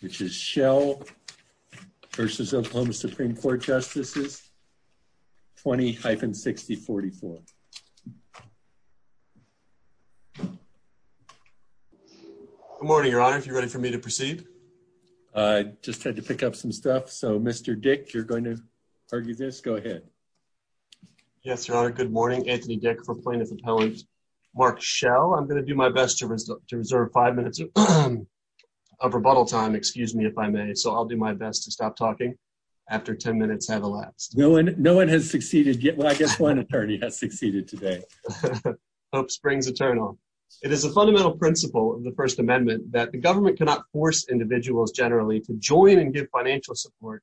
which is Shell v. Oklahoma Supreme Court Justices 20-6044. Good morning your honor if you're ready for me to proceed. I just had to pick up some stuff so Mr. Dick you're going to argue this go ahead. Yes your honor good morning Anthony Dick for plaintiff appellant Mark Shell I'm gonna do my best to reserve five minutes of rebuttal time excuse me if I may so I'll do my best to stop talking after ten minutes have elapsed. No one no one has succeeded yet well I guess one attorney has succeeded today. Hope springs eternal. It is a fundamental principle of the First Amendment that the government cannot force individuals generally to join and give financial support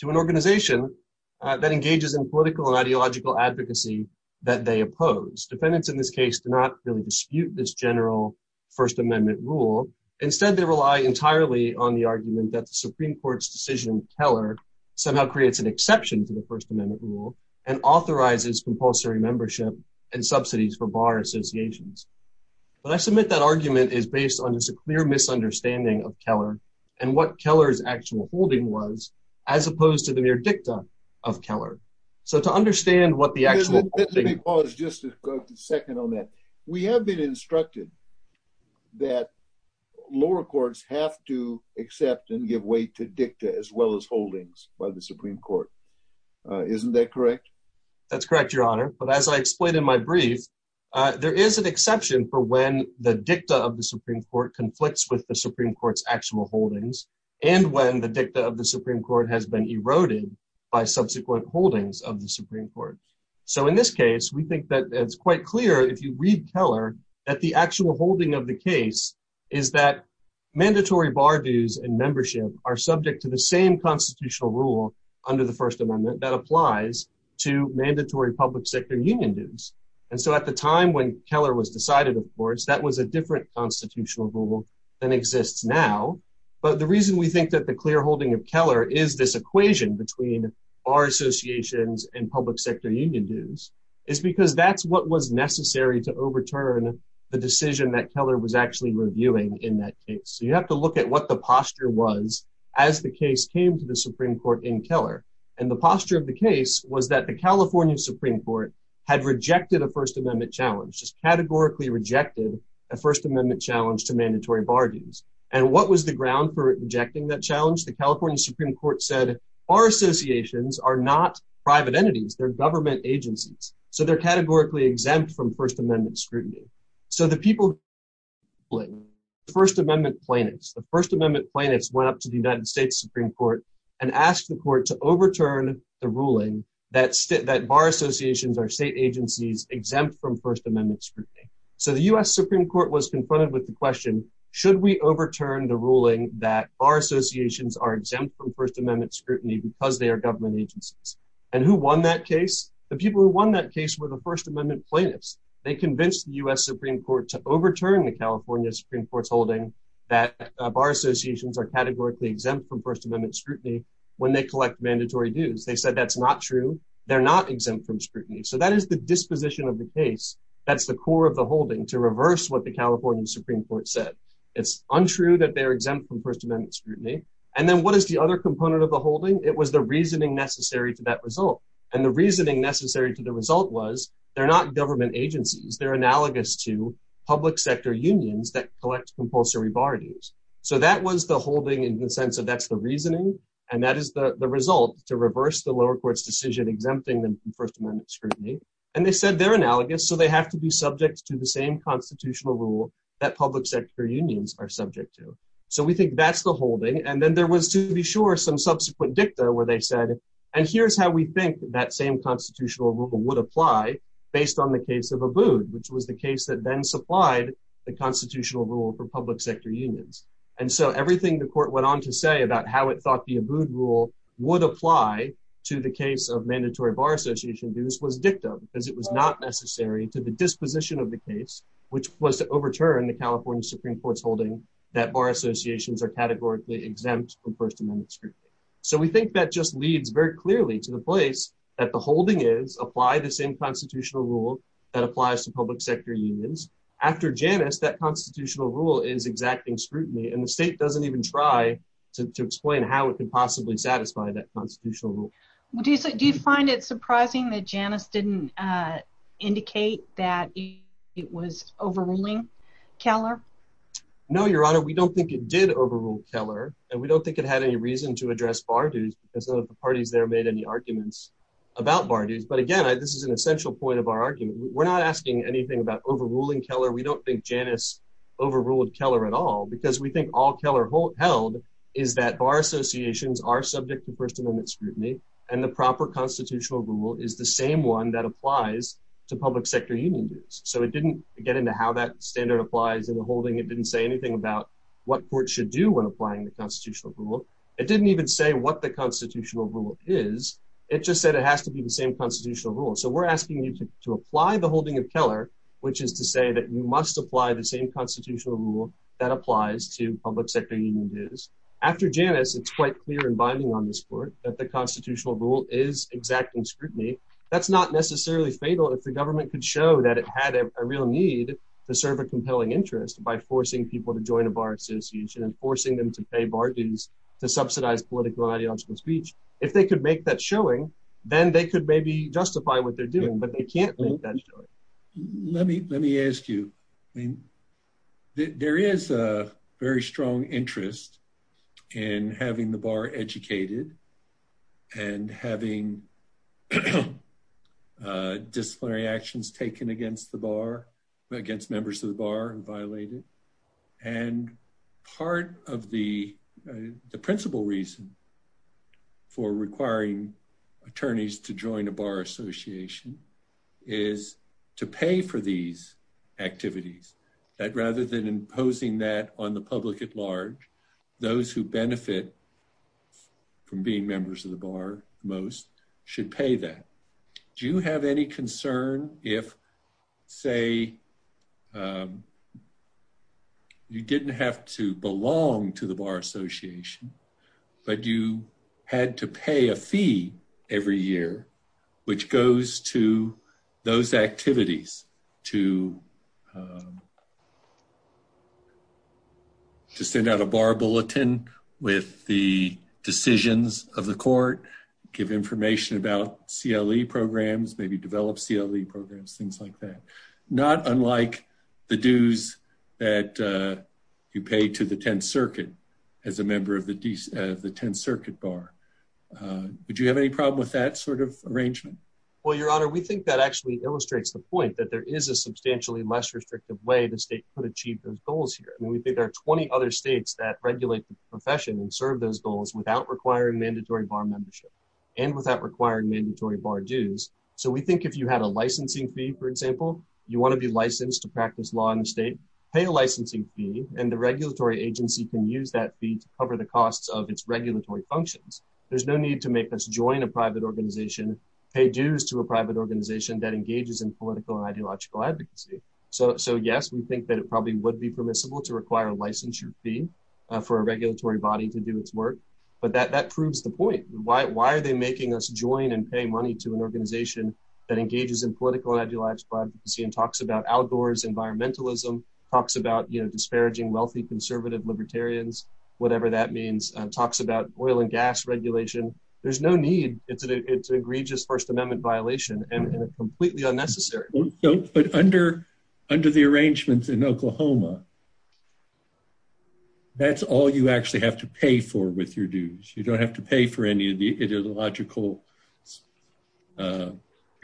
to an organization that engages in political and ideological advocacy that they oppose. Defendants in this case do not really dispute this general First Amendment rule instead they rely entirely on the argument that the Supreme Court's decision Keller somehow creates an exception to the First Amendment rule and authorizes compulsory membership and subsidies for bar associations. When I submit that argument is based on just a clear misunderstanding of Keller and what Keller's actual holding was as opposed to the mere dicta of Keller. So to understand what the actual. Let me pause just a second on that. We have been instructed that lower courts have to accept and give way to dicta as well as holdings by the Supreme Court. Isn't that correct? That's correct your honor but as I explained in my brief there is an exception for when the dicta of the Supreme Court conflicts with the Supreme Court's actual holdings and when the dicta of the Supreme Court has been eroded by subsequent holdings of the Supreme Court. So in this case we think that it's quite clear if you read Keller that the actual holding of the case is that mandatory bar dues and membership are subject to the same constitutional rule under the First Amendment that applies to mandatory public sector union dues and so at the time when Keller was decided of course that was a different constitutional rule than exists now but the reason we think that the clear equation between our associations and public sector union dues is because that's what was necessary to overturn the decision that Keller was actually reviewing in that case. So you have to look at what the posture was as the case came to the Supreme Court in Keller and the posture of the case was that the California Supreme Court had rejected a First Amendment challenge just categorically rejected a First Amendment challenge to mandatory bar dues and what was the ground for rejecting that challenge? The California Supreme Court said our associations are not private entities they're government agencies so they're categorically exempt from First Amendment scrutiny. So the people First Amendment plaintiffs the First Amendment plaintiffs went up to the United States Supreme Court and asked the court to overturn the ruling that bar associations are state agencies exempt from First Amendment scrutiny. So the US Supreme Court was confronted with the question should we because they are government agencies and who won that case? The people who won that case were the First Amendment plaintiffs. They convinced the US Supreme Court to overturn the California Supreme Court's holding that bar associations are categorically exempt from First Amendment scrutiny when they collect mandatory dues. They said that's not true they're not exempt from scrutiny. So that is the disposition of the case that's the core of the holding to reverse what the California Supreme Court said. It's untrue that they are exempt from First Amendment scrutiny and then what is the other component of the holding? It was the reasoning necessary to that result and the reasoning necessary to the result was they're not government agencies they're analogous to public sector unions that collect compulsory bar dues. So that was the holding in the sense of that's the reasoning and that is the result to reverse the lower courts decision exempting them from First Amendment scrutiny and they said they're analogous so they have to be subject to the same constitutional rule that public sector unions are subject to. So we think that's the holding and then there was to be sure some subsequent dicta where they said and here's how we think that same constitutional rule would apply based on the case of Abood which was the case that then supplied the constitutional rule for public sector unions. And so everything the court went on to say about how it thought the Abood rule would apply to the case of mandatory bar association dues was dictum because it was not necessary to the disposition of the case which was to overturn the California Supreme Court's holding that mandatory bar associations are categorically exempt from First Amendment scrutiny. So we think that just leads very clearly to the place that the holding is apply the same constitutional rule that applies to public sector unions after Janus that constitutional rule is exacting scrutiny and the state doesn't even try to explain how it could possibly satisfy that constitutional rule. Do you find it surprising that Janus didn't indicate that it was overruling Keller? No your honor we don't think it did overrule Keller and we don't think it had any reason to address bar dues because the parties there made any arguments about bar dues but again this is an essential point of our argument we're not asking anything about overruling Keller we don't think Janus overruled Keller at all because we think all Keller held is that bar associations are subject to First Amendment scrutiny and the proper constitutional rule is the same one that applies to public sector union dues. So it didn't get into how that standard applies in the holding it didn't say anything about what court should do when applying the constitutional rule it didn't even say what the constitutional rule is it just said it has to be the same constitutional rule so we're asking you to apply the holding of Keller which is to say that you must apply the same constitutional rule that applies to public sector union dues. After Janus it's quite clear and binding on this court that the constitutional rule is exacting scrutiny that's not necessarily fatal if the government could show that it had a real need to serve a compelling interest by forcing people to join a bar association and forcing them to pay bar dues to subsidize political ideological speech if they could make that showing then they could maybe justify what they're doing but they can't make that show. Let me let me ask you I mean there is a very strong interest in having the disciplinary actions taken against the bar against members of the bar and violated and part of the the principal reason for requiring attorneys to join a bar association is to pay for these activities that rather than imposing that on the public at large those who benefit from being members of the bar most should pay that. Do you have any concern if say you didn't have to belong to the bar association but you had to pay a fee every year which goes to those give information about CLE programs maybe develop CLE programs things like that not unlike the dues that you pay to the 10th Circuit as a member of the 10th Circuit bar. Would you have any problem with that sort of arrangement? Well your honor we think that actually illustrates the point that there is a substantially less restrictive way the state could achieve those goals here and we think there are 20 other states that regulate the profession and serve those goals without requiring mandatory bar membership and without requiring mandatory bar dues. So we think if you had a licensing fee for example you want to be licensed to practice law in the state pay a licensing fee and the regulatory agency can use that fee to cover the costs of its regulatory functions. There's no need to make us join a private organization pay dues to a private organization that engages in political and ideological advocacy. So yes we think that it probably would be permissible to require a licensure fee for a regulatory body to do its work but that proves the point. Why are they making us join and pay money to an organization that engages in political and ideological advocacy and talks about outdoors environmentalism, talks about you know disparaging wealthy conservative libertarians, whatever that means, talks about oil and gas regulation. There's no need. It's an egregious First Amendment violation and completely unnecessary. But under the arrangements in Oklahoma that's all you actually have to pay for with your dues. You don't have to pay for any of the ideological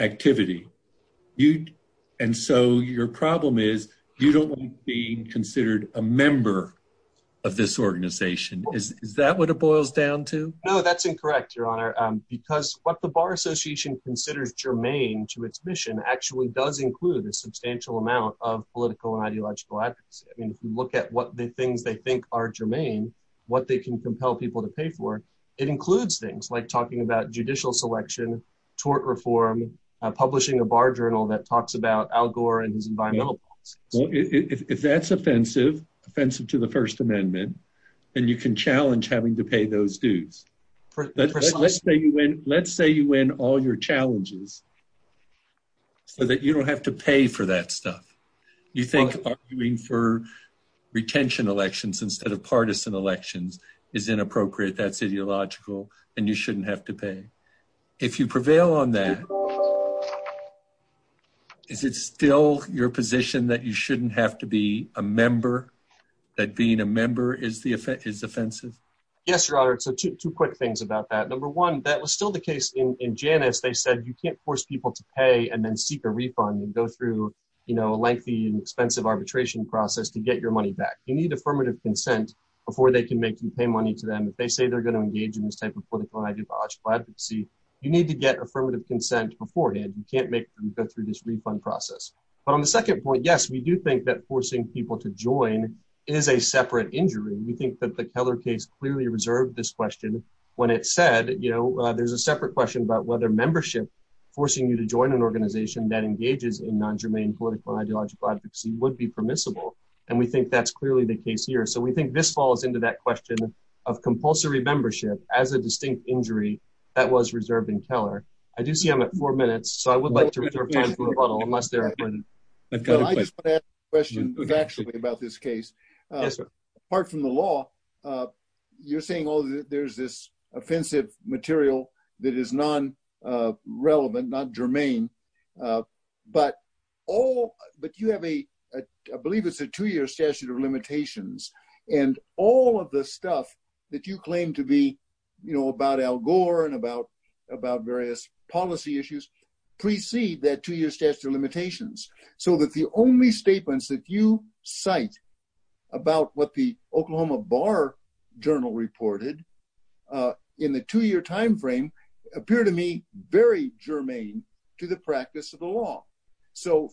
activity. And so your problem is you don't want to be considered a member of this organization. Is that what it boils down to? No that's incorrect your honor because what the Bar Association considers germane to its mission actually does include a substantial amount of political and what they can compel people to pay for. It includes things like talking about judicial selection, tort reform, publishing a bar journal that talks about Al Gore and his environmental policies. If that's offensive, offensive to the First Amendment, then you can challenge having to pay those dues. Let's say you win all your challenges so that you don't have to pay for that stuff. You partisan elections is inappropriate. That's ideological and you shouldn't have to pay. If you prevail on that, is it still your position that you shouldn't have to be a member? That being a member is offensive? Yes your honor. So two quick things about that. Number one, that was still the case in Janus. They said you can't force people to pay and then seek a refund and go through a lengthy and expensive arbitration process to get your consent before they can make you pay money to them. If they say they're going to engage in this type of political and ideological advocacy, you need to get affirmative consent beforehand. You can't make them go through this refund process. But on the second point, yes we do think that forcing people to join is a separate injury. We think that the Keller case clearly reserved this question when it said, you know, there's a separate question about whether membership forcing you to join an organization that engages in non-germane political and ideological advocacy would be permissible and we think that's clearly the case here. So we think this falls into that question of compulsory membership as a distinct injury that was reserved in Keller. I do see I'm at four minutes so I would like to reserve time for a bottle unless there are questions. I just want to ask a question about this case. Yes sir. Apart from the law, you're saying all there's this offensive material that is non-relevant, not germane, but all but you have a, I believe it's a two-year statute of limitations and all of the stuff that you claim to be, you know, about Al Gore and about various policy issues precede that two-year statute of limitations. So that the only statements that you cite about what the Oklahoma Bar-Journal reported in the two-year time frame appear to me very germane to the practice of the law. So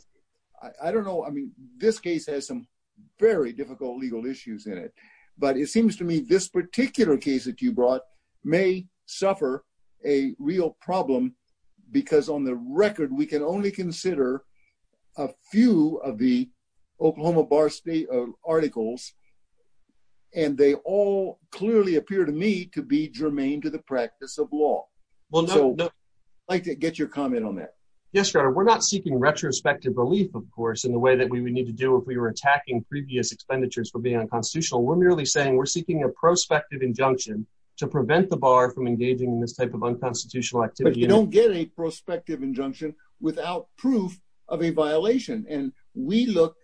I don't know, I mean, this case has some very difficult legal issues in it, but it seems to me this particular case that you brought may suffer a real problem because on the record we can only consider a few of the Oklahoma Bar-Journal articles and they all clearly appear to me to be germane to the practice of law. So I'd like to get your comment on that. Yes, Your Honor, we're not seeking retrospective relief, of course, in the way that we would need to do if we were attacking previous expenditures for being unconstitutional. We're merely saying we're seeking a prospective injunction to prevent the bar from engaging in this type of unconstitutional activity. But you don't get a prospective injunction without proof of a violation and we look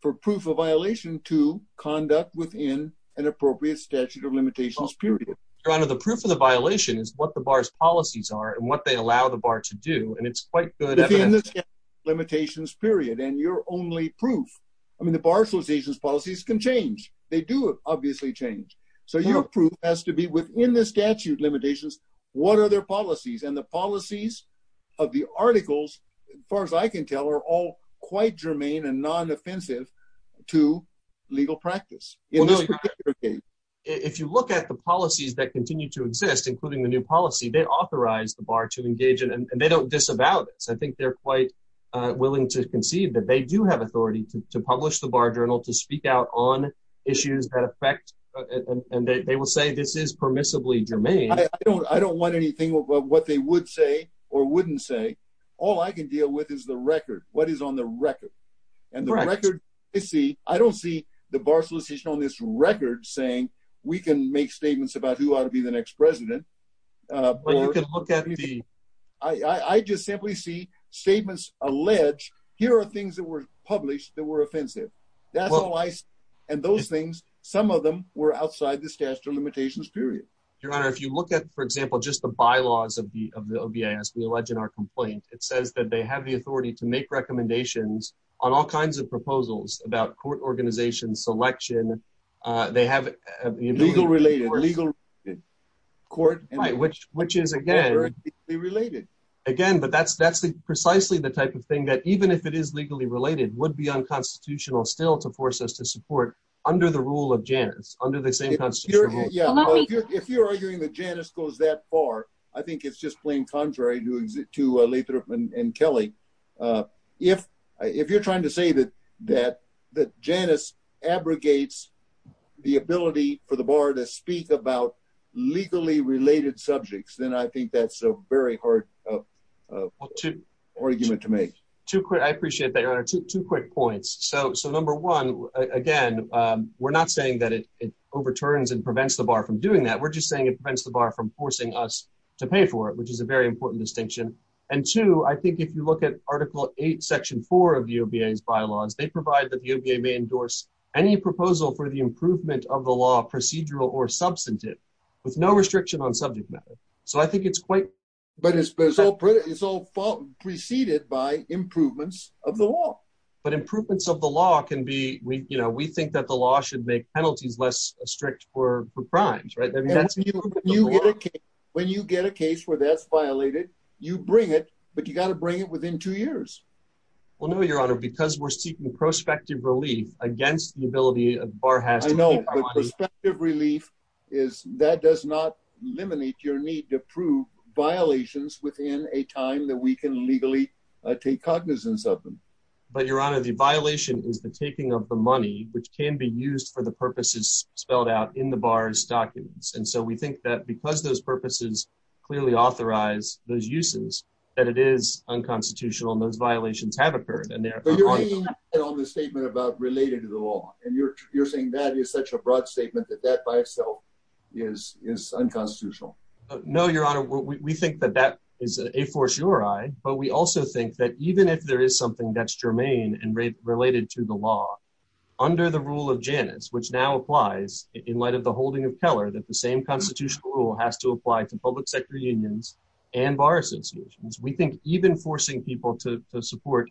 for proof of violation to conduct within an appropriate statute of limitations period. Your Honor, the proof of the violation is what the bar's policies are and what they allow the bar to do and it's quite good evidence. Within the statute of limitations period and your only proof, I mean the Bar Association's policies can change. They do obviously change. So your proof has to be within the statute limitations what are their policies and the policies of the articles, as far as I can tell, are all quite germane and non-offensive to legal practice in this particular case. If you look at the policies that continue to exist, including the new policy, they authorize the bar to engage in and they don't disavow this. I think they're quite willing to conceive that they do have authority to publish the Bar Journal to speak out on issues that affect and they will say this is permissibly germane. I don't want anything about what they would say or wouldn't say. All I can deal with is the record. What is on the record? And the bar solicitation on this record saying we can make statements about who ought to be the next president. I just simply see statements allege here are things that were published that were offensive. That's all I see. And those things, some of them, were outside the statute of limitations period. Your Honor, if you look at, for example, just the bylaws of the OBIS we allege in our complaint, it says that they have the authority to make recommendations on all kinds of legislation, selection. They have legal related, legal court. Right, which which is again related. Again, but that's that's the precisely the type of thing that even if it is legally related would be unconstitutional still to force us to support under the rule of Janus, under the same Constitution. If you're arguing that Janus goes that far, I think it's just plain contrary to Lathrop and Kelly. If you're trying to say that that Janus abrogates the ability for the bar to speak about legally related subjects, then I think that's a very hard argument to make. I appreciate that, Your Honor. Two quick points. So number one, again, we're not saying that it overturns and prevents the bar from doing that. We're just saying it prevents the bar from forcing us to pay for it, which is a very important distinction. And two, I think if you look at Article 8, Section 4 of the OBIS bylaws, they provide that the OJ may endorse any proposal for the improvement of the law, procedural or substantive, with no restriction on subject matter. So I think it's quite... But it's all preceded by improvements of the law. But improvements of the law can be, you know, we think that the law should make penalties less strict for crimes, right? When you get a case where that's violated, you bring it, but you got to bring it within two years. Well, no, Your Honor, because we're seeking prospective relief against the ability of the bar has to pay for money. I know, but prospective relief is, that does not eliminate your need to prove violations within a time that we can legally take cognizance of them. But, Your Honor, the violation is the taking of the money, which can be used for the purposes spelled out in the bar's documents. And so we think that because those purposes clearly authorize those uses, that it is unconstitutional and those violations have occurred. But you're leaning on the statement about related to the law, and you're saying that is such a broad statement that that by itself is unconstitutional. No, Your Honor, we think that that is a force your eye, but we also think that even if there is something that's germane and related to the law, under the rule of Janus, which now applies in light of the holding of Keller, that the same constitutional rule has to apply to public sector unions and bar associations, we think even forcing people to support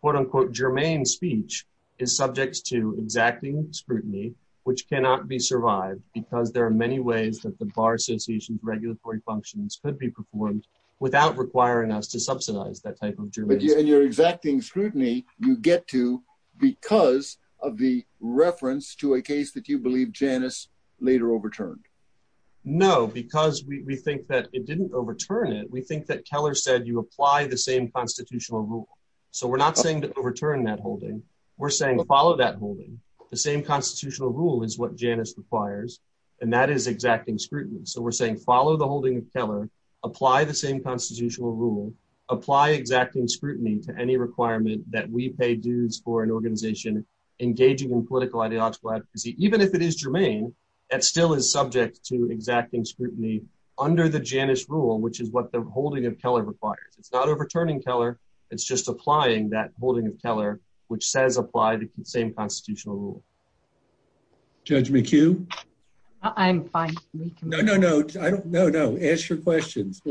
quote-unquote germane speech is subject to exacting scrutiny, which cannot be survived because there are many ways that the bar association's regulatory functions could be performed without requiring us to subsidize that type of germane speech. And your exacting scrutiny you get to because of the we think that it didn't overturn it, we think that Keller said you apply the same constitutional rule. So we're not saying to overturn that holding, we're saying follow that holding. The same constitutional rule is what Janus requires, and that is exacting scrutiny. So we're saying follow the holding of Keller, apply the same constitutional rule, apply exacting scrutiny to any requirement that we pay dues for an organization engaging in political ideological advocacy, even if it is germane, that still is subject to exacting scrutiny under the Janus rule, which is what the holding of Keller requires. It's not overturning Keller, it's just applying that holding of Keller, which says apply the same constitutional rule. Judge McHugh? I'm fine. No, no, no, no, no, no, no, no, ask your questions.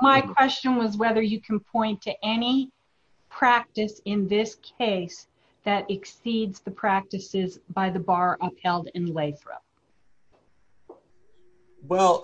My question was whether you can point to any practice in this case that exceeds the practices by the bar upheld in Lathrop. Well,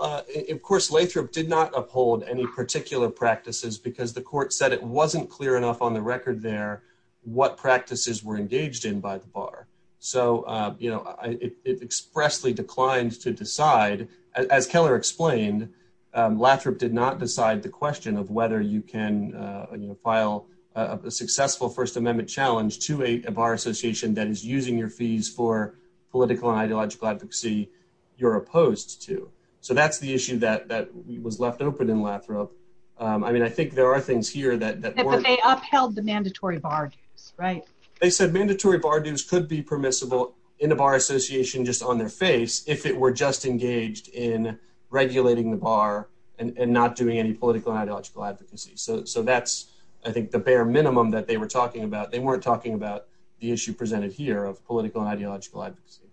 of course, Lathrop did not uphold any particular practices because the court said it wasn't clear enough on the record there what practices were engaged in by the bar. So, you know, it expressly declined to decide, as Keller explained, Lathrop did not decide the question of whether you can file a successful First Amendment challenge to a bar association that is using your fees for political and ideological advocacy you're opposed to. So that's the issue that was left open in Lathrop. I mean, I think there are things here that... But they upheld the mandatory bar dues, right? They said mandatory bar dues could be permissible in a bar association just on their face if it were just engaged in regulating the bar and not doing any political and ideological advocacy. So that's, I think, the issue that they were talking about. They weren't talking about the issue presented here of political and ideological advocacy,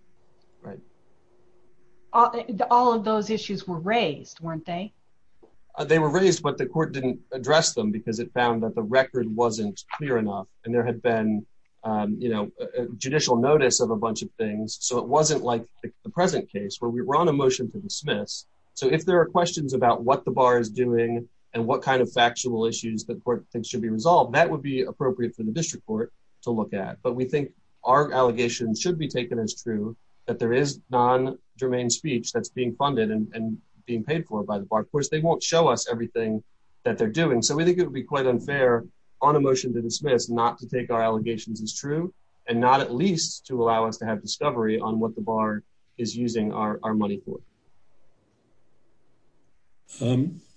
right? All of those issues were raised, weren't they? They were raised, but the court didn't address them because it found that the record wasn't clear enough and there had been, you know, judicial notice of a bunch of things. So it wasn't like the present case where we were on a motion to dismiss. So if there are questions about what the bar is doing and what kind of factual issues that court thinks should be resolved, that would be appropriate for the district court to look at. But we think our allegations should be taken as true, that there is non-germane speech that's being funded and being paid for by the bar. Of course, they won't show us everything that they're doing. So we think it would be quite unfair on a motion to dismiss not to take our allegations as true and not at least to allow us to have discovery on what the bar is using our money for.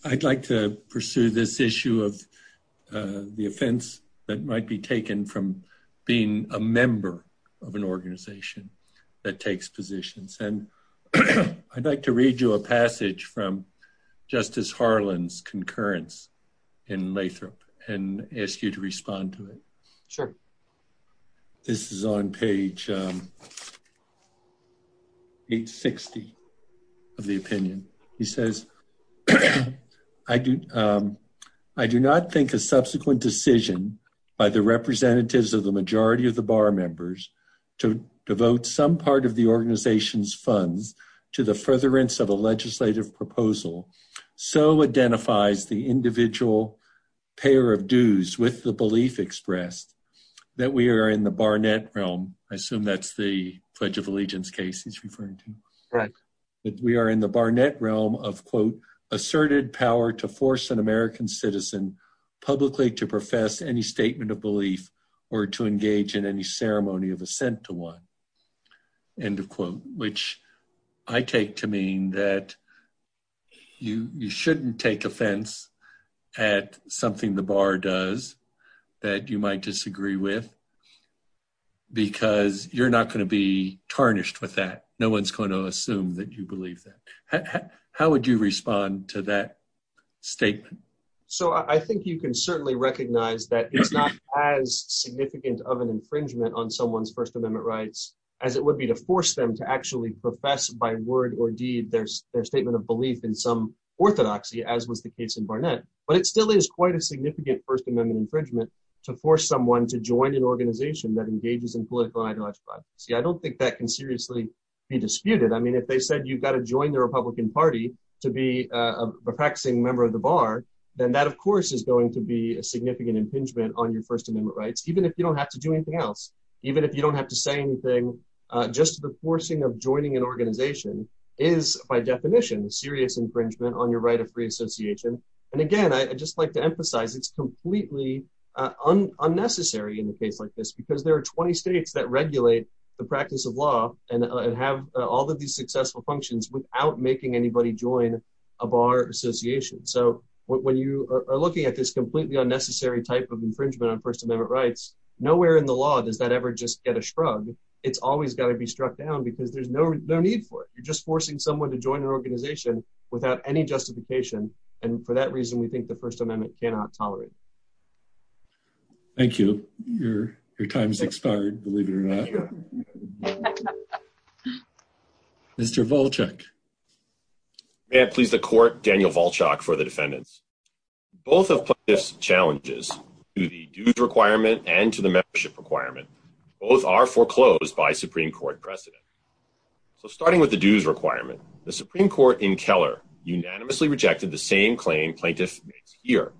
I'd like to pursue this issue of the offense that might be taken from being a member of an organization that takes positions. And I'd like to read you a passage from Justice Harlan's concurrence in Lathrop and ask you to of the opinion. He says, I do not think a subsequent decision by the representatives of the majority of the bar members to devote some part of the organization's funds to the furtherance of a legislative proposal so identifies the individual payer of dues with the belief expressed that we are in the Barnett realm. I assume that's the Pledge of Allegiance case he's referring to. Right. That we are in the Barnett realm of quote, asserted power to force an American citizen publicly to profess any statement of belief or to engage in any ceremony of assent to one. End of quote. Which I take to mean that you you shouldn't take offense at something the bar does that you might disagree with because you're not going to be tarnished with that. No one's going to assume that you believe that. How would you respond to that statement? So I think you can certainly recognize that it's not as significant of an infringement on someone's First Amendment rights as it would be to force them to actually profess by word or deed there's their statement of belief in some orthodoxy as was the case in Barnett. But it still is quite a significant First Amendment infringement to force someone to join an organization that engages in political ideological advocacy. I don't think that can seriously be disputed. I mean if they said you've got to join the Republican Party to be a practicing member of the bar then that of course is going to be a significant impingement on your First Amendment rights even if you don't have to do anything else. Even if you don't have to say anything just the forcing of joining an organization is by definition a serious infringement on your right of free association. And again I just like to emphasize it's completely unnecessary in a case like this because there are 20 states that regulate the practice of law and have all of these successful functions without making anybody join a bar association. So when you are looking at this completely unnecessary type of infringement on First Amendment rights nowhere in the law does that ever just get a shrug. It's always got to be struck down because there's no need for it. You're just forcing someone to join an organization without any justification and for that reason we think the First Amendment cannot tolerate. Thank you. Your time has expired believe it or not. Mr. Volchak. May I please the court Daniel Volchak for the defendants. Both of plaintiffs' challenges to the dues requirement and to the membership requirement both are foreclosed by Supreme Court precedent. So starting with the dues requirement the Supreme Court in Keller unanimously rejected the same claim plaintiff makes here.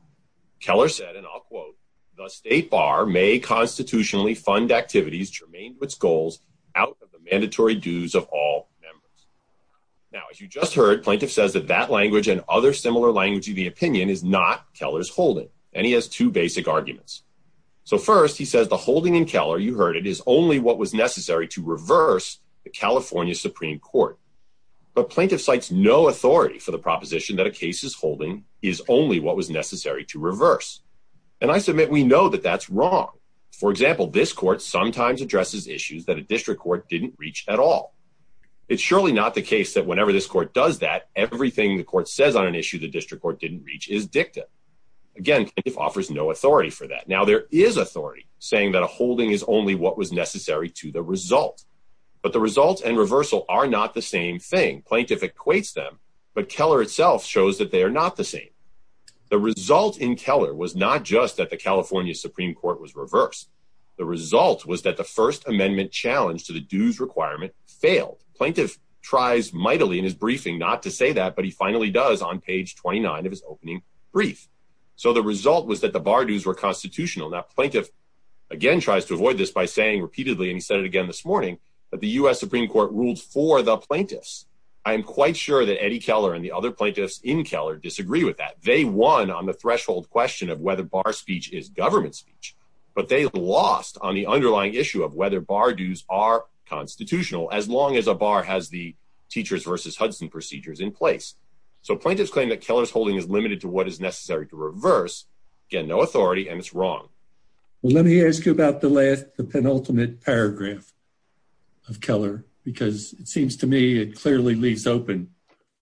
Keller said and I'll quote the state bar may constitutionally fund activities germane to its goals out of the mandatory dues of all members. Now as you just heard plaintiff says that that language and other similar language of the opinion is not Keller's holding and he has two basic arguments. So first he says the holding in Keller you heard it is only what was necessary to reverse the California Supreme Court. But plaintiff cites no authority for the proposition that a case is holding is only what was necessary to reverse. And I submit we know that that's wrong. For example this court sometimes addresses issues that a district court didn't reach at all. It's surely not the case that whenever this court does that everything the court says on an issue the district court didn't reach is dicta. Again plaintiff offers no authority for that. Now there is authority saying that a holding is only what was necessary to the result. But the result and reversal are not the same thing. Plaintiff equates them but Keller itself shows that they are not the same. The result in Keller was not just that the California Supreme Court was reversed. The result was that the First Amendment challenge to the dues requirement failed. Plaintiff tries mightily in his briefing not to say that but he finally does on page 29 of his opening brief. So the result was that the bar dues were constitutional. Now plaintiff again tries to avoid this by saying repeatedly and he said it again this morning that the US Supreme Court ruled for the plaintiffs. I am quite sure that Eddie Keller and the other plaintiffs in Keller disagree with that. They won on the threshold question of whether bar speech is government speech but they lost on the underlying issue of whether bar dues are constitutional as long as a bar has the teachers versus Hudson procedures in place. So plaintiffs claim that Keller's holding is limited to what is necessary to reverse. Again no authority and it's wrong. Let me ask you about the last the penultimate paragraph of Keller because it seems to me it clearly leaves open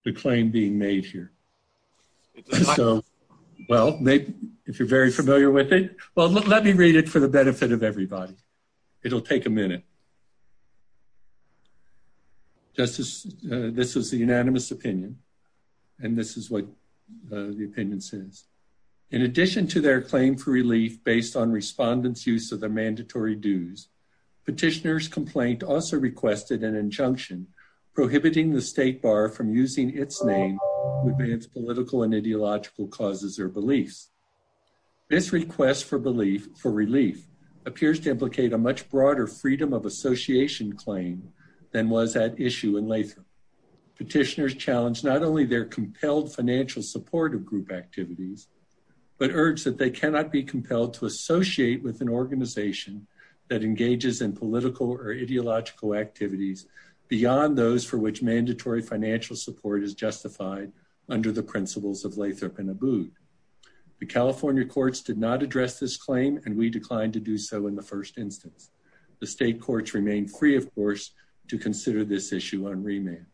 the claim being made here. So well maybe if you're very familiar with it well let me read it for the benefit of everybody. It'll take a minute. Justice this is the unanimous opinion and this is what the opinion says. In addition to their claim for relief based on respondents use of mandatory dues, petitioners complaint also requested an injunction prohibiting the state bar from using its name to advance political and ideological causes or beliefs. This request for belief for relief appears to implicate a much broader freedom of association claim than was at issue in Latham. Petitioners challenged not only their compelled financial support of group activities but urged that they cannot be compelled to associate with an organization that engages in political or ideological activities beyond those for which mandatory financial support is justified under the principles of Latham and Abboud. The California courts did not address this claim and we declined to do so in the first instance. The state courts remain free of course to consider this issue on remand.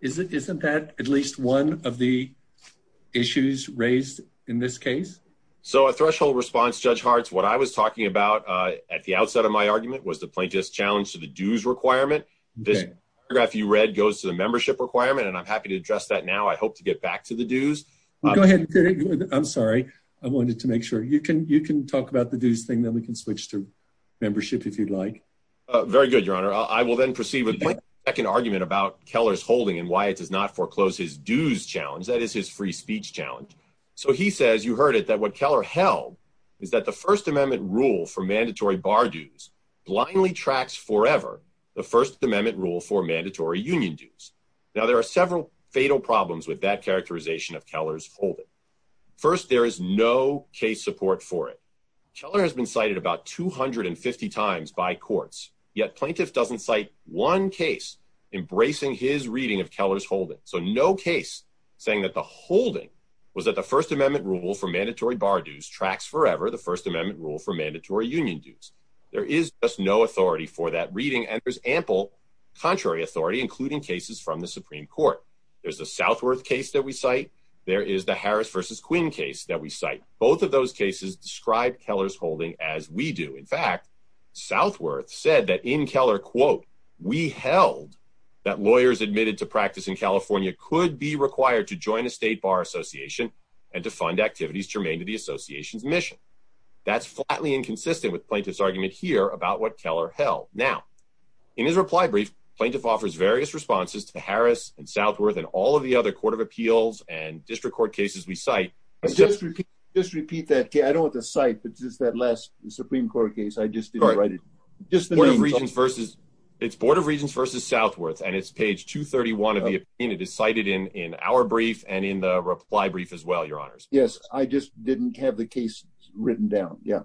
Isn't that at least one of the issues raised in this case? So a threshold response Judge Hartz what I was talking about at the outset of my argument was the plaintiff's challenge to the dues requirement. This paragraph you read goes to the membership requirement and I'm happy to address that now. I hope to get back to the dues. Go ahead. I'm sorry I wanted to make sure you can you can talk about the dues thing then we can switch to membership if you'd like. Very good your honor. I will then proceed with my second argument about Keller's holding and why it does not foreclose his dues challenge that is his free speech challenge. So he says you heard it that what Keller held is that the First Amendment rule for mandatory bar dues blindly tracks forever the First Amendment rule for mandatory union dues. Now there are several fatal problems with that characterization of Keller's holding. First there is no case support for it. Keller has been cited about 250 times by courts yet plaintiff doesn't cite one case embracing his reading of Keller's holding. So no case saying that the holding was that the First Amendment rule for mandatory bar dues tracks forever the First Amendment rule for mandatory union dues. There is just no authority for that reading and there's ample contrary authority including cases from the Supreme Court. There's the Southworth case that we cite. There is the Harris versus Quinn case that we cite. In fact Southworth said that in Keller quote we held that lawyers admitted to practice in California could be required to join a state bar association and to fund activities germane to the association's mission. That's flatly inconsistent with plaintiff's argument here about what Keller held. Now in his reply brief plaintiff offers various responses to Harris and Southworth and all of the other Court of Appeals and district court cases we cite. Just repeat that. I don't want to cite but just that last Supreme Court case I just didn't write it. It's Board of Regents versus Southworth and it's page 231 of the opinion. It is cited in in our brief and in the reply brief as well your honors. Yes I just didn't have the case written down yeah.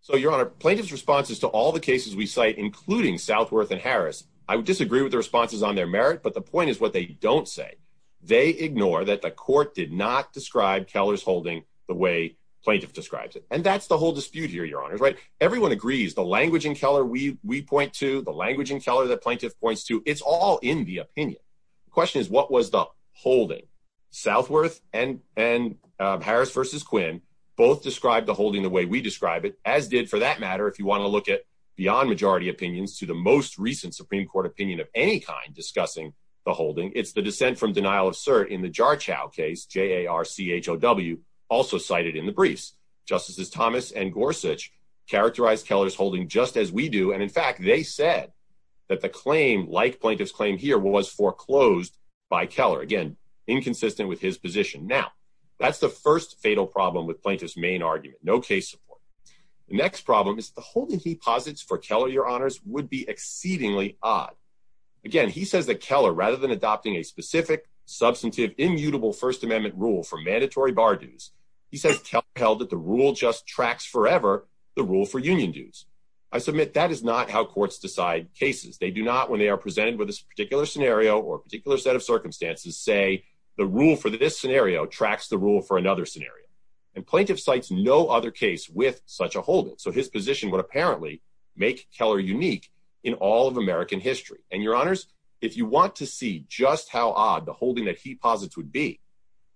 So your honor plaintiff's responses to all the cases we cite including Southworth and Harris. I would disagree with the responses on their merit but the point is what they don't say. They ignore that the court did not describe Keller's the way plaintiff describes it. And that's the whole dispute here your honors right. Everyone agrees the language in Keller we we point to the language in Keller that plaintiff points to it's all in the opinion. The question is what was the holding. Southworth and and Harris versus Quinn both described the holding the way we describe it as did for that matter if you want to look at beyond majority opinions to the most recent Supreme Court opinion of any kind discussing the holding. It's the dissent from denial of cert in the Jarchow case J-A-R-C-H-O-W also cited in the briefs. Justices Thomas and Gorsuch characterized Keller's holding just as we do and in fact they said that the claim like plaintiff's claim here was foreclosed by Keller. Again inconsistent with his position. Now that's the first fatal problem with plaintiff's main argument. No case support. The next problem is the holding he posits for Keller your honors would be exceedingly odd. Again he says that Keller rather than adopting a specific substantive immutable First Amendment rule for mandatory bar dues he says Keller held that the rule just tracks forever the rule for union dues. I submit that is not how courts decide cases. They do not when they are presented with this particular scenario or particular set of circumstances say the rule for this scenario tracks the rule for another scenario and plaintiff cites no other case with such a holding. So his position would apparently make Keller unique in all of American history and your honors if you want to see just how odd the holding that he posits would be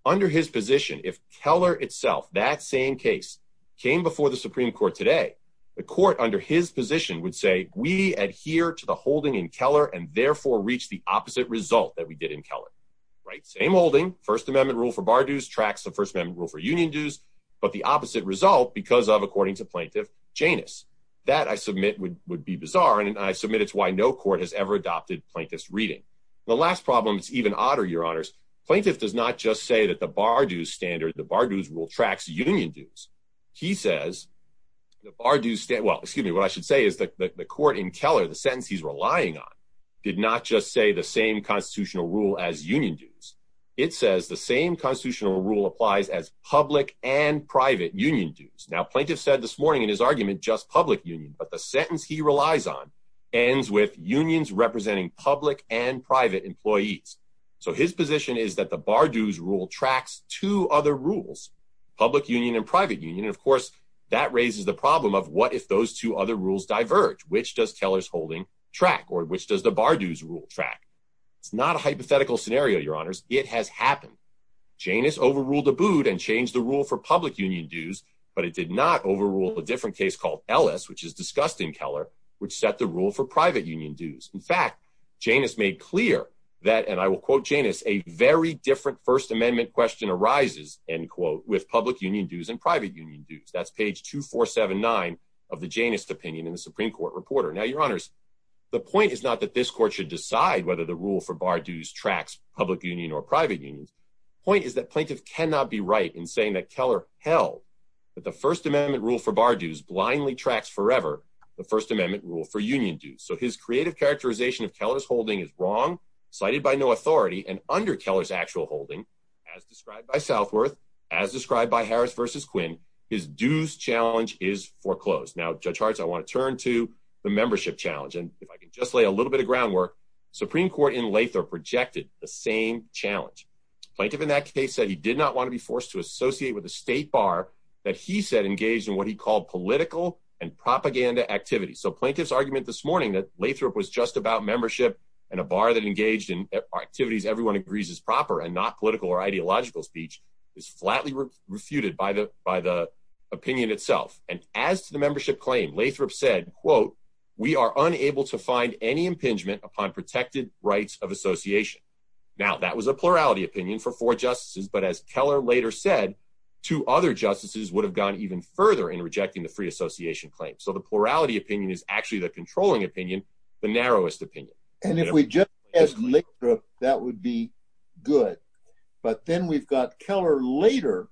under his position if Keller itself that same case came before the Supreme Court today the court under his position would say we adhere to the holding in Keller and therefore reach the opposite result that we did in Keller. Right same holding First Amendment rule for bar dues tracks the First Amendment rule for union dues but the opposite result because of according to plaintiff Janus. That I admit it's why no court has ever adopted plaintiff's reading. The last problem it's even odder your honors plaintiff does not just say that the bar dues standard the bar dues rule tracks union dues. He says the bar dues stand well excuse me what I should say is that the court in Keller the sentence he's relying on did not just say the same constitutional rule as union dues it says the same constitutional rule applies as public and private union dues. Now plaintiff said this morning in his argument just public union but the ends with unions representing public and private employees. So his position is that the bar dues rule tracks two other rules public union and private union of course that raises the problem of what if those two other rules diverge which does Keller's holding track or which does the bar dues rule track. It's not a hypothetical scenario your honors it has happened. Janus overruled the boot and changed the rule for public union dues but it did not overrule the different case called Ellis which is discussed in Keller which set the rule for private union dues. In fact Janus made clear that and I will quote Janus a very different First Amendment question arises end quote with public union dues and private union dues. That's page 2479 of the Janus opinion in the Supreme Court reporter. Now your honors the point is not that this court should decide whether the rule for bar dues tracks public union or private unions. Point is that plaintiff cannot be right in saying that Keller held that the First Amendment rule for union dues. So his creative characterization of Keller's holding is wrong cited by no authority and under Keller's actual holding as described by Southworth as described by Harris versus Quinn his dues challenge is foreclosed. Now Judge Harts I want to turn to the membership challenge and if I can just lay a little bit of groundwork Supreme Court in Lather projected the same challenge. Plaintiff in that case said he did not want to be forced to associate with a state bar that he said engaged in what he called political and propaganda activities. So plaintiff's argument this morning that Lathrop was just about membership and a bar that engaged in activities everyone agrees is proper and not political or ideological speech is flatly refuted by the by the opinion itself and as to the membership claim Lathrop said quote we are unable to find any impingement upon protected rights of association. Now that was a plurality opinion for four justices but as Keller later said two other justices would have gone even further in rejecting the free association claim. So the plurality opinion is actually the controlling opinion the narrowest opinion. And if we just as Lathrop that would be good but then we've got Keller later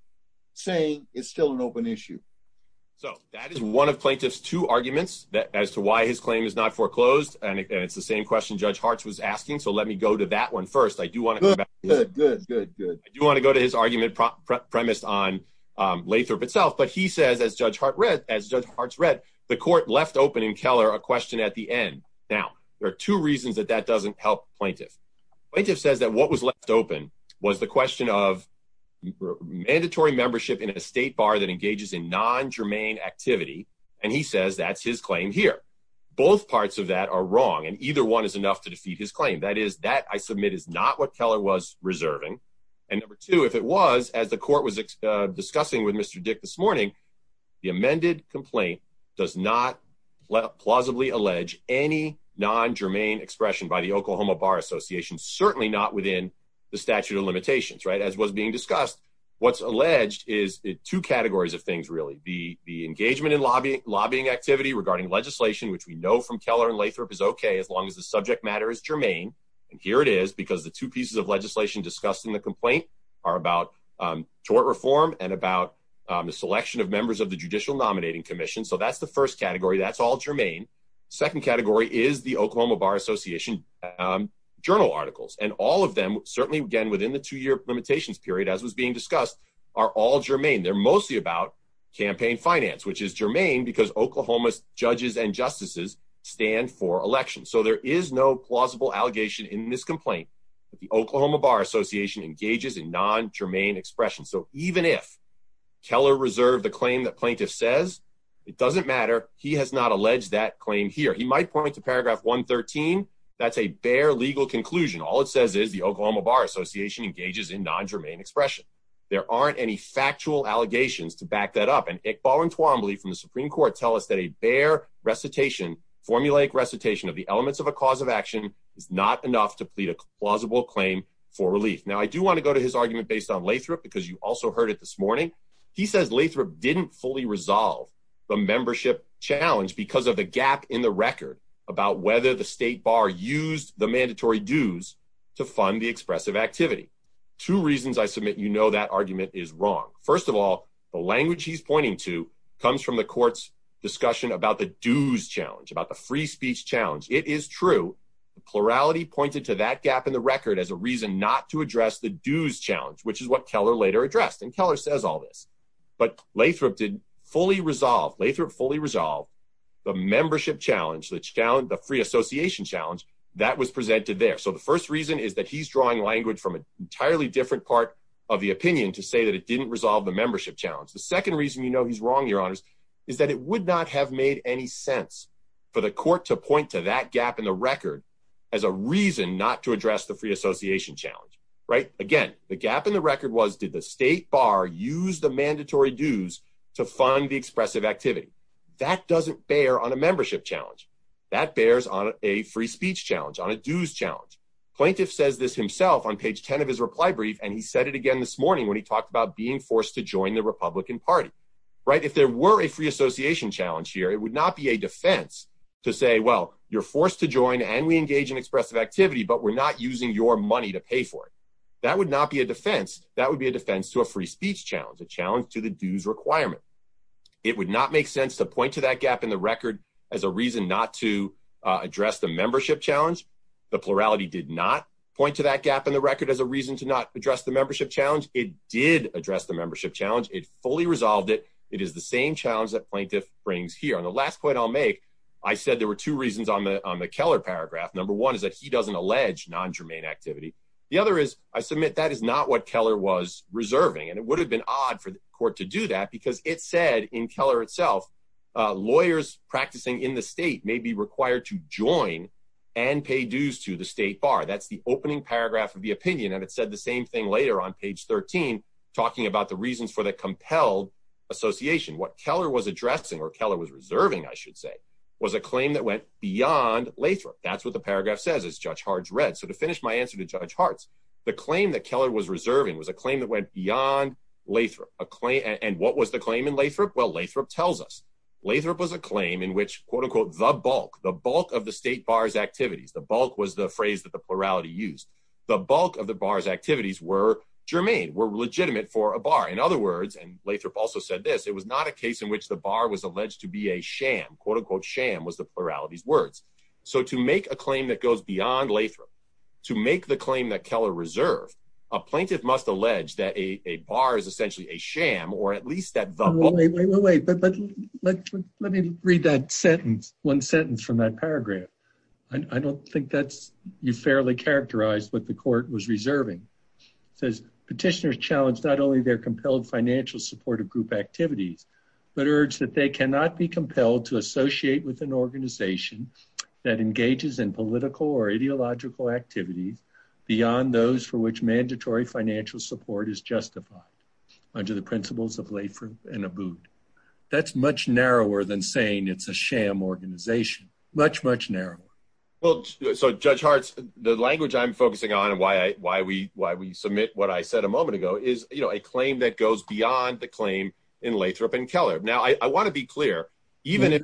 saying it's still an open issue. So that is one of plaintiff's two arguments that as to why his claim is not foreclosed and it's the same question Judge Harts was asking so let me go to that one first. I do want to go to his argument premised on Lathrop itself but he says as Judge Hart read as Judge Harts read the court left open in Keller a question at the end. Now there are two reasons that that doesn't help plaintiff. Plaintiff says that what was left open was the question of mandatory membership in a state bar that engages in non-germane activity and he says that's his claim here. Both parts of that are wrong and either one is enough to defeat his claim. That is that I was reserving and number two if it was as the court was discussing with Mr. Dick this morning the amended complaint does not plausibly allege any non-germane expression by the Oklahoma Bar Association certainly not within the statute of limitations right as was being discussed. What's alleged is two categories of things really. The the engagement in lobbying lobbying activity regarding legislation which we know from Keller and Lathrop is okay as long as the subject matter is germane and here it is because the two pieces of legislation discussed in the complaint are about tort reform and about the selection of members of the Judicial Nominating Commission so that's the first category that's all germane. Second category is the Oklahoma Bar Association journal articles and all of them certainly again within the two-year limitations period as was being discussed are all germane. They're mostly about campaign finance which is germane because Oklahoma's judges and justices stand for election so there is no plausible allegation in this complaint that the Oklahoma Bar Association engages in non-germane expression so even if Keller reserved the claim that plaintiff says it doesn't matter he has not alleged that claim here. He might point to paragraph 113 that's a bare legal conclusion all it says is the Oklahoma Bar Association engages in non-germane expression. There aren't any factual allegations to back that up and Iqbal and Twombly from the Supreme Court tell us that a bare recitation formulaic recitation of the elements of a cause of action is not enough to plead a plausible claim for relief. Now I do want to go to his argument based on Lathrop because you also heard it this morning he says Lathrop didn't fully resolve the membership challenge because of the gap in the record about whether the state bar used the mandatory dues to fund the expressive activity. Two reasons I submit you know that argument is wrong. First of all the language he's pointing to comes from the courts discussion about the dues challenge about the free membership challenge. The second reason you know he's wrong your honors is that it would not have made any sense for the court to point to that gap in the record as a reason not to address the dues challenge which is what Keller later addressed and Keller says all this but Lathrop did fully resolve Lathrop fully resolved the membership challenge the challenge the free association challenge that was presented there so the first reason is that he's drawing language from an entirely different part of the opinion to say that it didn't resolve the membership challenge. The second reason you know he's wrong your honors is that it would not have made any sense for the free association challenge right again the gap in the record was did the state bar use the mandatory dues to fund the expressive activity that doesn't bear on a membership challenge that bears on a free speech challenge on a dues challenge plaintiff says this himself on page 10 of his reply brief and he said it again this morning when he talked about being forced to join the Republican Party right if there were a free association challenge here it would not be a defense to say well you're forced to join and we engage in using your money to pay for it that would not be a defense that would be a defense to a free speech challenge a challenge to the dues requirement it would not make sense to point to that gap in the record as a reason not to address the membership challenge the plurality did not point to that gap in the record as a reason to not address the membership challenge it did address the membership challenge it fully resolved it it is the same challenge that plaintiff brings here on the last point I'll make I said there were two reasons on the on the Keller paragraph number one is that he doesn't allege non-germane activity the other is I submit that is not what Keller was reserving and it would have been odd for the court to do that because it said in Keller itself lawyers practicing in the state may be required to join and pay dues to the state bar that's the opening paragraph of the opinion and it said the same thing later on page 13 talking about the reasons for the compelled association what Keller was addressing or Keller was reserving I should say was a claim that went beyond Lathrop that's what the paragraph says it's judge hearts read so to finish my answer to judge hearts the claim that Keller was reserving was a claim that went beyond Lathrop a claim and what was the claim in Lathrop well Lathrop tells us Lathrop was a claim in which quote-unquote the bulk the bulk of the state bars activities the bulk was the phrase that the plurality used the bulk of the bars activities were germane were legitimate for a bar in other words and Lathrop also said this it was not a case in which the bar was alleged to be a sham quote-unquote sham was the plurality's so to make a claim that goes beyond Lathrop to make the claim that Keller reserved a plaintiff must allege that a bar is essentially a sham or at least that the way but let me read that sentence one sentence from that paragraph I don't think that's you fairly characterized what the court was reserving says petitioners challenged not only their compelled financial supportive group activities but urged that they cannot be compelled to that engages in political or ideological activities beyond those for which mandatory financial support is justified under the principles of Lathrop and a boot that's much narrower than saying it's a sham organization much much narrower well so judge hearts the language I'm focusing on and why I why we why we submit what I said a moment ago is you know a claim that goes beyond the claim in Lathrop and Keller now I want to be clear even if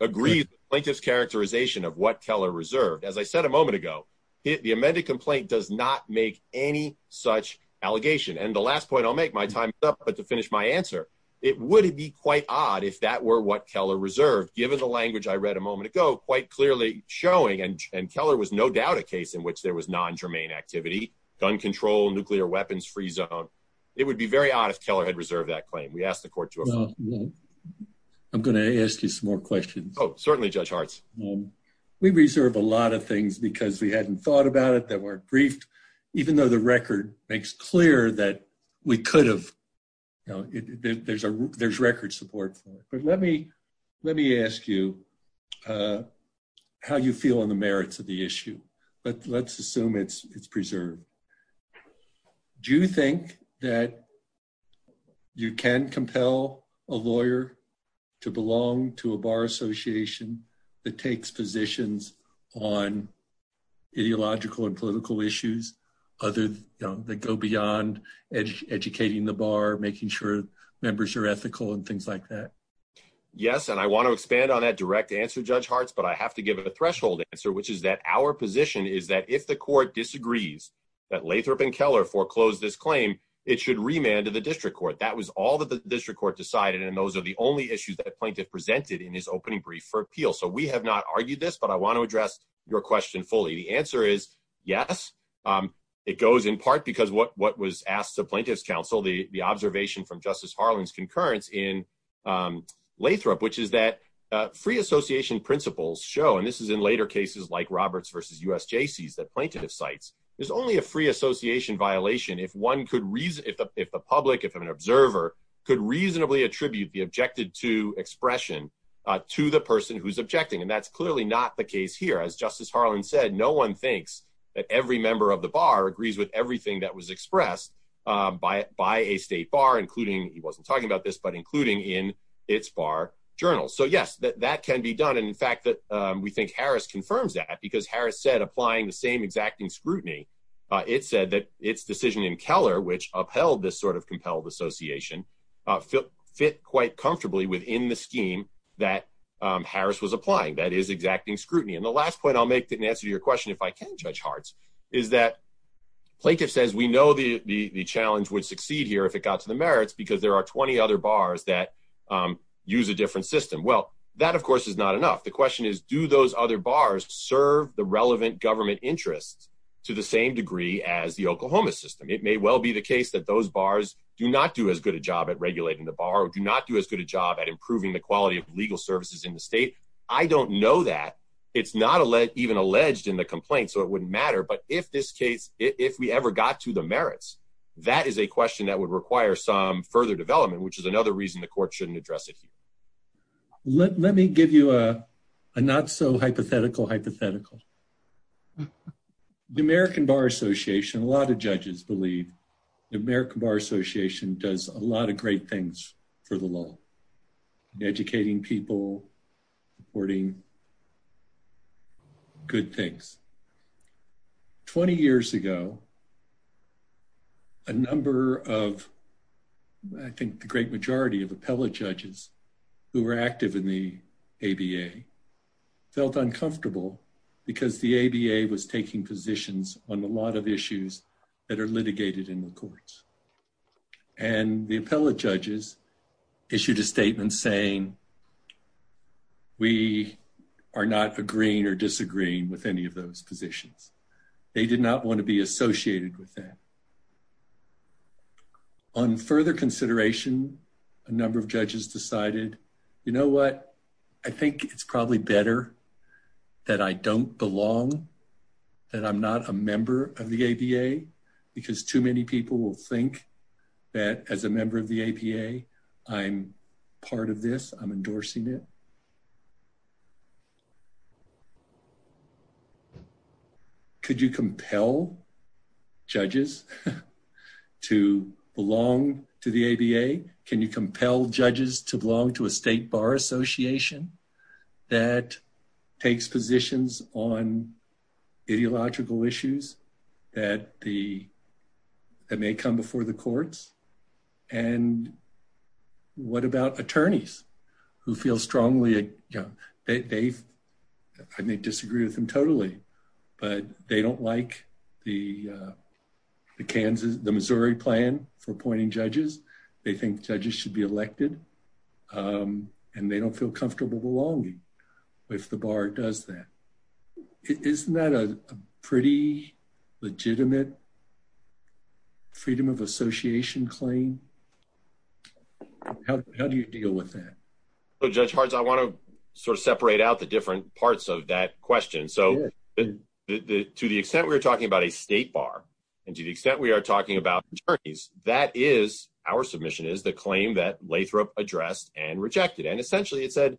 agrees plaintiffs characterization of what Keller reserved as I said a moment ago the amended complaint does not make any such allegation and the last point I'll make my time up but to finish my answer it wouldn't be quite odd if that were what Keller reserved given the language I read a moment ago quite clearly showing and and Keller was no doubt a case in which there was non-germane activity gun control nuclear weapons free zone it would be very odd if Keller had reserved that claim we asked the court you know I'm gonna ask you some more questions oh certainly judge hearts we reserve a lot of things because we hadn't thought about it that weren't briefed even though the record makes clear that we could have you know there's a there's record support but let me let me ask you how you feel on the merits of the issue but let's assume it's it's preserved do think that you can compel a lawyer to belong to a bar association that takes positions on ideological and political issues other they go beyond educating the bar making sure members are ethical and things like that yes and I want to expand on that direct answer judge hearts but I have to give it a threshold answer which is that our position is that if the court disagrees that Lathrop and Keller foreclosed this claim it should remand to the district court that was all that the district court decided and those are the only issues that a plaintiff presented in his opening brief for appeal so we have not argued this but I want to address your question fully the answer is yes it goes in part because what what was asked to plaintiffs counsel the the observation from Justice Harlan's concurrence in Lathrop which is that free association principles show and this is in later cases like Roberts versus US JC's that only a free association violation if one could reason if the public if an observer could reasonably attribute the objected to expression to the person who's objecting and that's clearly not the case here as Justice Harlan said no one thinks that every member of the bar agrees with everything that was expressed by a state bar including he wasn't talking about this but including in its bar journal so yes that can be done and in fact that we think Harris confirms that because Harris said applying the same exacting scrutiny it said that its decision in Keller which upheld this sort of compelled association fit quite comfortably within the scheme that Harris was applying that is exacting scrutiny and the last point I'll make didn't answer your question if I can judge hearts is that plaintiff says we know the the challenge would succeed here if it got to the merits because there are 20 other bars that use a different system well that of course is not enough the question is do those other bars serve the relevant government interests to the same degree as the Oklahoma system it may well be the case that those bars do not do as good a job at regulating the bar or do not do as good a job at improving the quality of legal services in the state I don't know that it's not a let even alleged in the complaint so it wouldn't matter but if this case if we ever got to the merits that is a question that would require some further development which is another reason the court shouldn't address it let me give you a not-so-hypothetical hypothetical the American Bar Association a lot of judges believe the American Bar Association does a lot of great things for the law educating people reporting good things 20 years ago a number of I think the felt uncomfortable because the ABA was taking positions on a lot of issues that are litigated in the courts and the appellate judges issued a statement saying we are not agreeing or disagreeing with any of those positions they did not want to be associated with that on further consideration a number of judges decided you know what I think it's probably better that I don't belong that I'm not a member of the ABA because too many people will think that as a member of the APA I'm part of this I'm endorsing it could you compel judges to belong to the ABA can you compel judges to belong to a state bar association that takes positions on ideological issues that the that may come before the courts and what about attorneys who feel strongly you know they've I may disagree with them totally but they don't like the Kansas the Missouri plan for appointing judges they think judges should be elected and they don't feel comfortable belonging if the bar does that isn't that a pretty legitimate freedom of association claim how do you deal with that so judge parts I want to sort of separate out the different parts of that question so to the extent we were talking about a state bar and to the extent we are talking about attorneys that is our submission is the claim that Lathrop addressed and rejected and essentially it said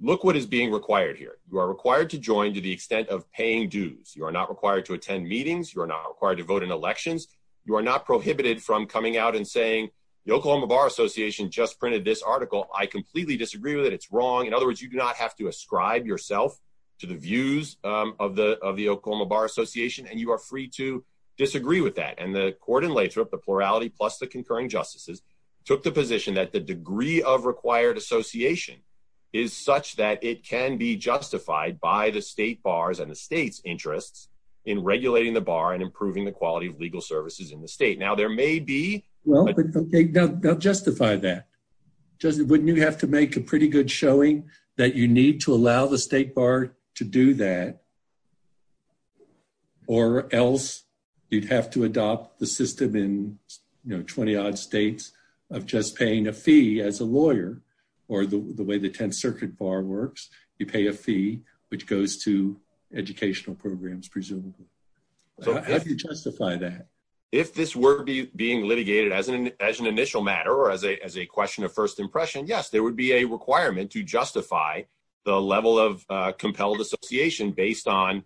look what is being required here you are required to join to the extent of paying dues you are not required to attend meetings you are not required to vote in elections you are not prohibited from coming out and saying the Oklahoma Bar Association just printed this article I completely disagree with it it's wrong in other words you do not have to ascribe yourself to the views of the of the Oklahoma Bar Association and you are free to disagree with that and the court in Lathrop the plurality plus the concurring justices took the position that the degree of required association is such that it can be justified by the state bars and the state's interests in regulating the bar and improving the quality of legal services in the state now there may be well they don't justify that doesn't wouldn't you have to make a pretty good showing that you need to allow the state bar to do that or else you'd have to adopt the system in you know 20-odd states of just paying a fee as a lawyer or the way the 10th Circuit bar works you pay a fee which goes to educational programs presumably if this were to be being litigated as an as an initial matter or as a as a question of first impression yes there would be a requirement to justify the level of compelled association based on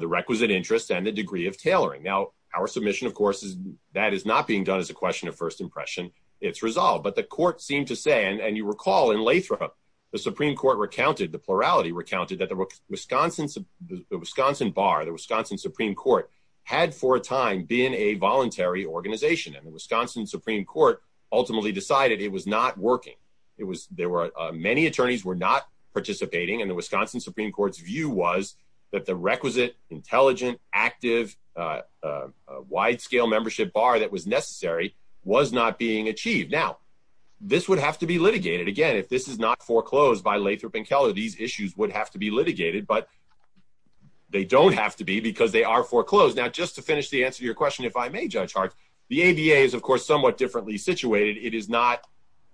the requisite interest and the degree of tailoring now our submission of course is that is not being done as a question of first impression it's resolved but the court seemed to say and you recall in Lathrop the Supreme Court recounted the plurality recounted that the Wisconsin the Wisconsin bar the Wisconsin Supreme Court had for a time being a voluntary organization and the Wisconsin Supreme Court ultimately decided it was not working it was there were many attorneys were not participating and the Wisconsin Supreme Court's view was that the requisite intelligent active wide-scale membership bar that was necessary was not being achieved now this would have to be litigated again if this is not but they don't have to be because they are foreclosed now just to finish the answer to your question if I may judge Hart the ABA is of course somewhat differently situated it is not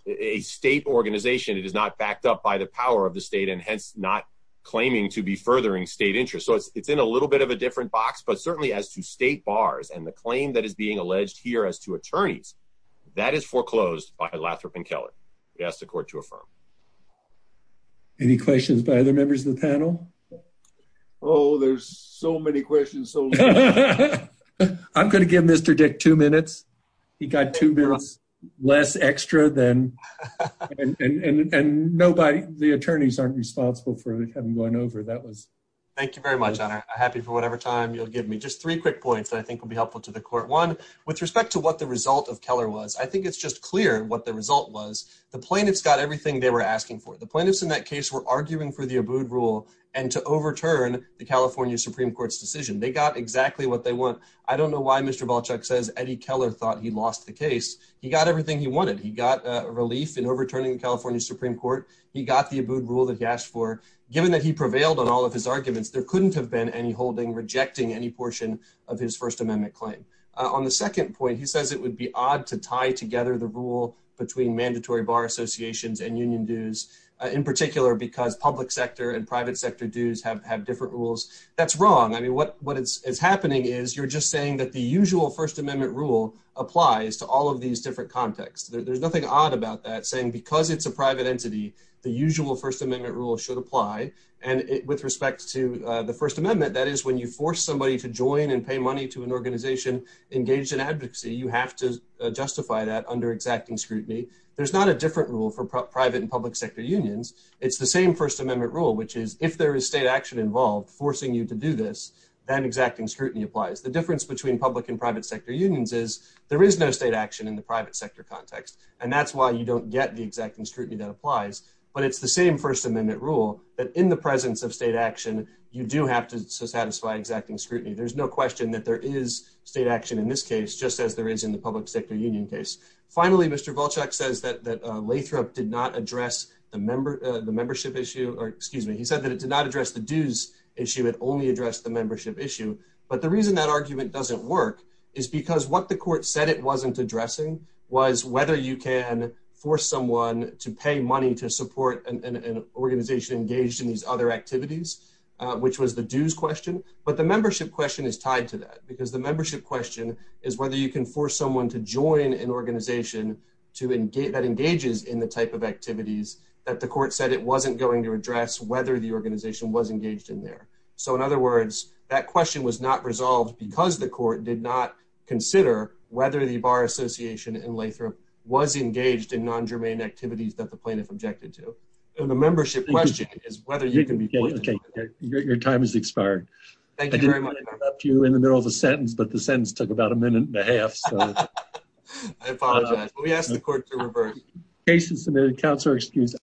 a state organization it is not backed up by the power of the state and hence not claiming to be furthering state interest so it's it's in a little bit of a different box but certainly as to state bars and the claim that is being alleged here as to attorneys that is foreclosed by Lathrop and Keller yes the court to affirm any questions by other members of panel oh there's so many questions so I'm gonna give mr. dick two minutes he got two bills less extra than and nobody the attorneys aren't responsible for having one over that was thank you very much I'm happy for whatever time you'll give me just three quick points that I think will be helpful to the court one with respect to what the result of Keller was I think it's just clear what the result was the plaintiffs got everything they were asking for the plaintiffs in that case were arguing for the abode rule and to overturn the California Supreme Court's decision they got exactly what they want I don't know why mr. Balchuk says Eddie Keller thought he lost the case he got everything he wanted he got a relief in overturning California Supreme Court he got the abode rule that he asked for given that he prevailed on all of his arguments there couldn't have been any holding rejecting any portion of his First Amendment claim on the second point he says it would be odd to tie together the rule between mandatory bar associations and union dues in particular because public sector and private sector dues have have different rules that's wrong I mean what what it's happening is you're just saying that the usual First Amendment rule applies to all of these different contexts there's nothing odd about that saying because it's a private entity the usual First Amendment rule should apply and it with respect to the First Amendment that is when you force somebody to join and pay money to an organization engaged in under exacting scrutiny there's not a different rule for private and public sector unions it's the same First Amendment rule which is if there is state action involved forcing you to do this then exacting scrutiny applies the difference between public and private sector unions is there is no state action in the private sector context and that's why you don't get the exacting scrutiny that applies but it's the same First Amendment rule that in the presence of state action you do have to satisfy exacting scrutiny there's no question that there is state action in this case just as there is in the public sector union case finally mr. Volchek says that that Lathrop did not address the member the membership issue or excuse me he said that it did not address the dues issue it only addressed the membership issue but the reason that argument doesn't work is because what the court said it wasn't addressing was whether you can force someone to pay money to support an organization engaged in these other activities which was the dues question but the membership question is tied to that because the membership question is whether you can force someone to join an organization to engage that engages in the type of activities that the court said it wasn't going to address whether the organization was engaged in there so in other words that question was not resolved because the court did not consider whether the Bar Association in Lathrop was engaged in non-germane activities that the plaintiff objected to the membership question is whether you can be okay your time is expired thank you very much up to you in the middle of a sentence but the sentence took about a minute and a half cases submitted counts are excused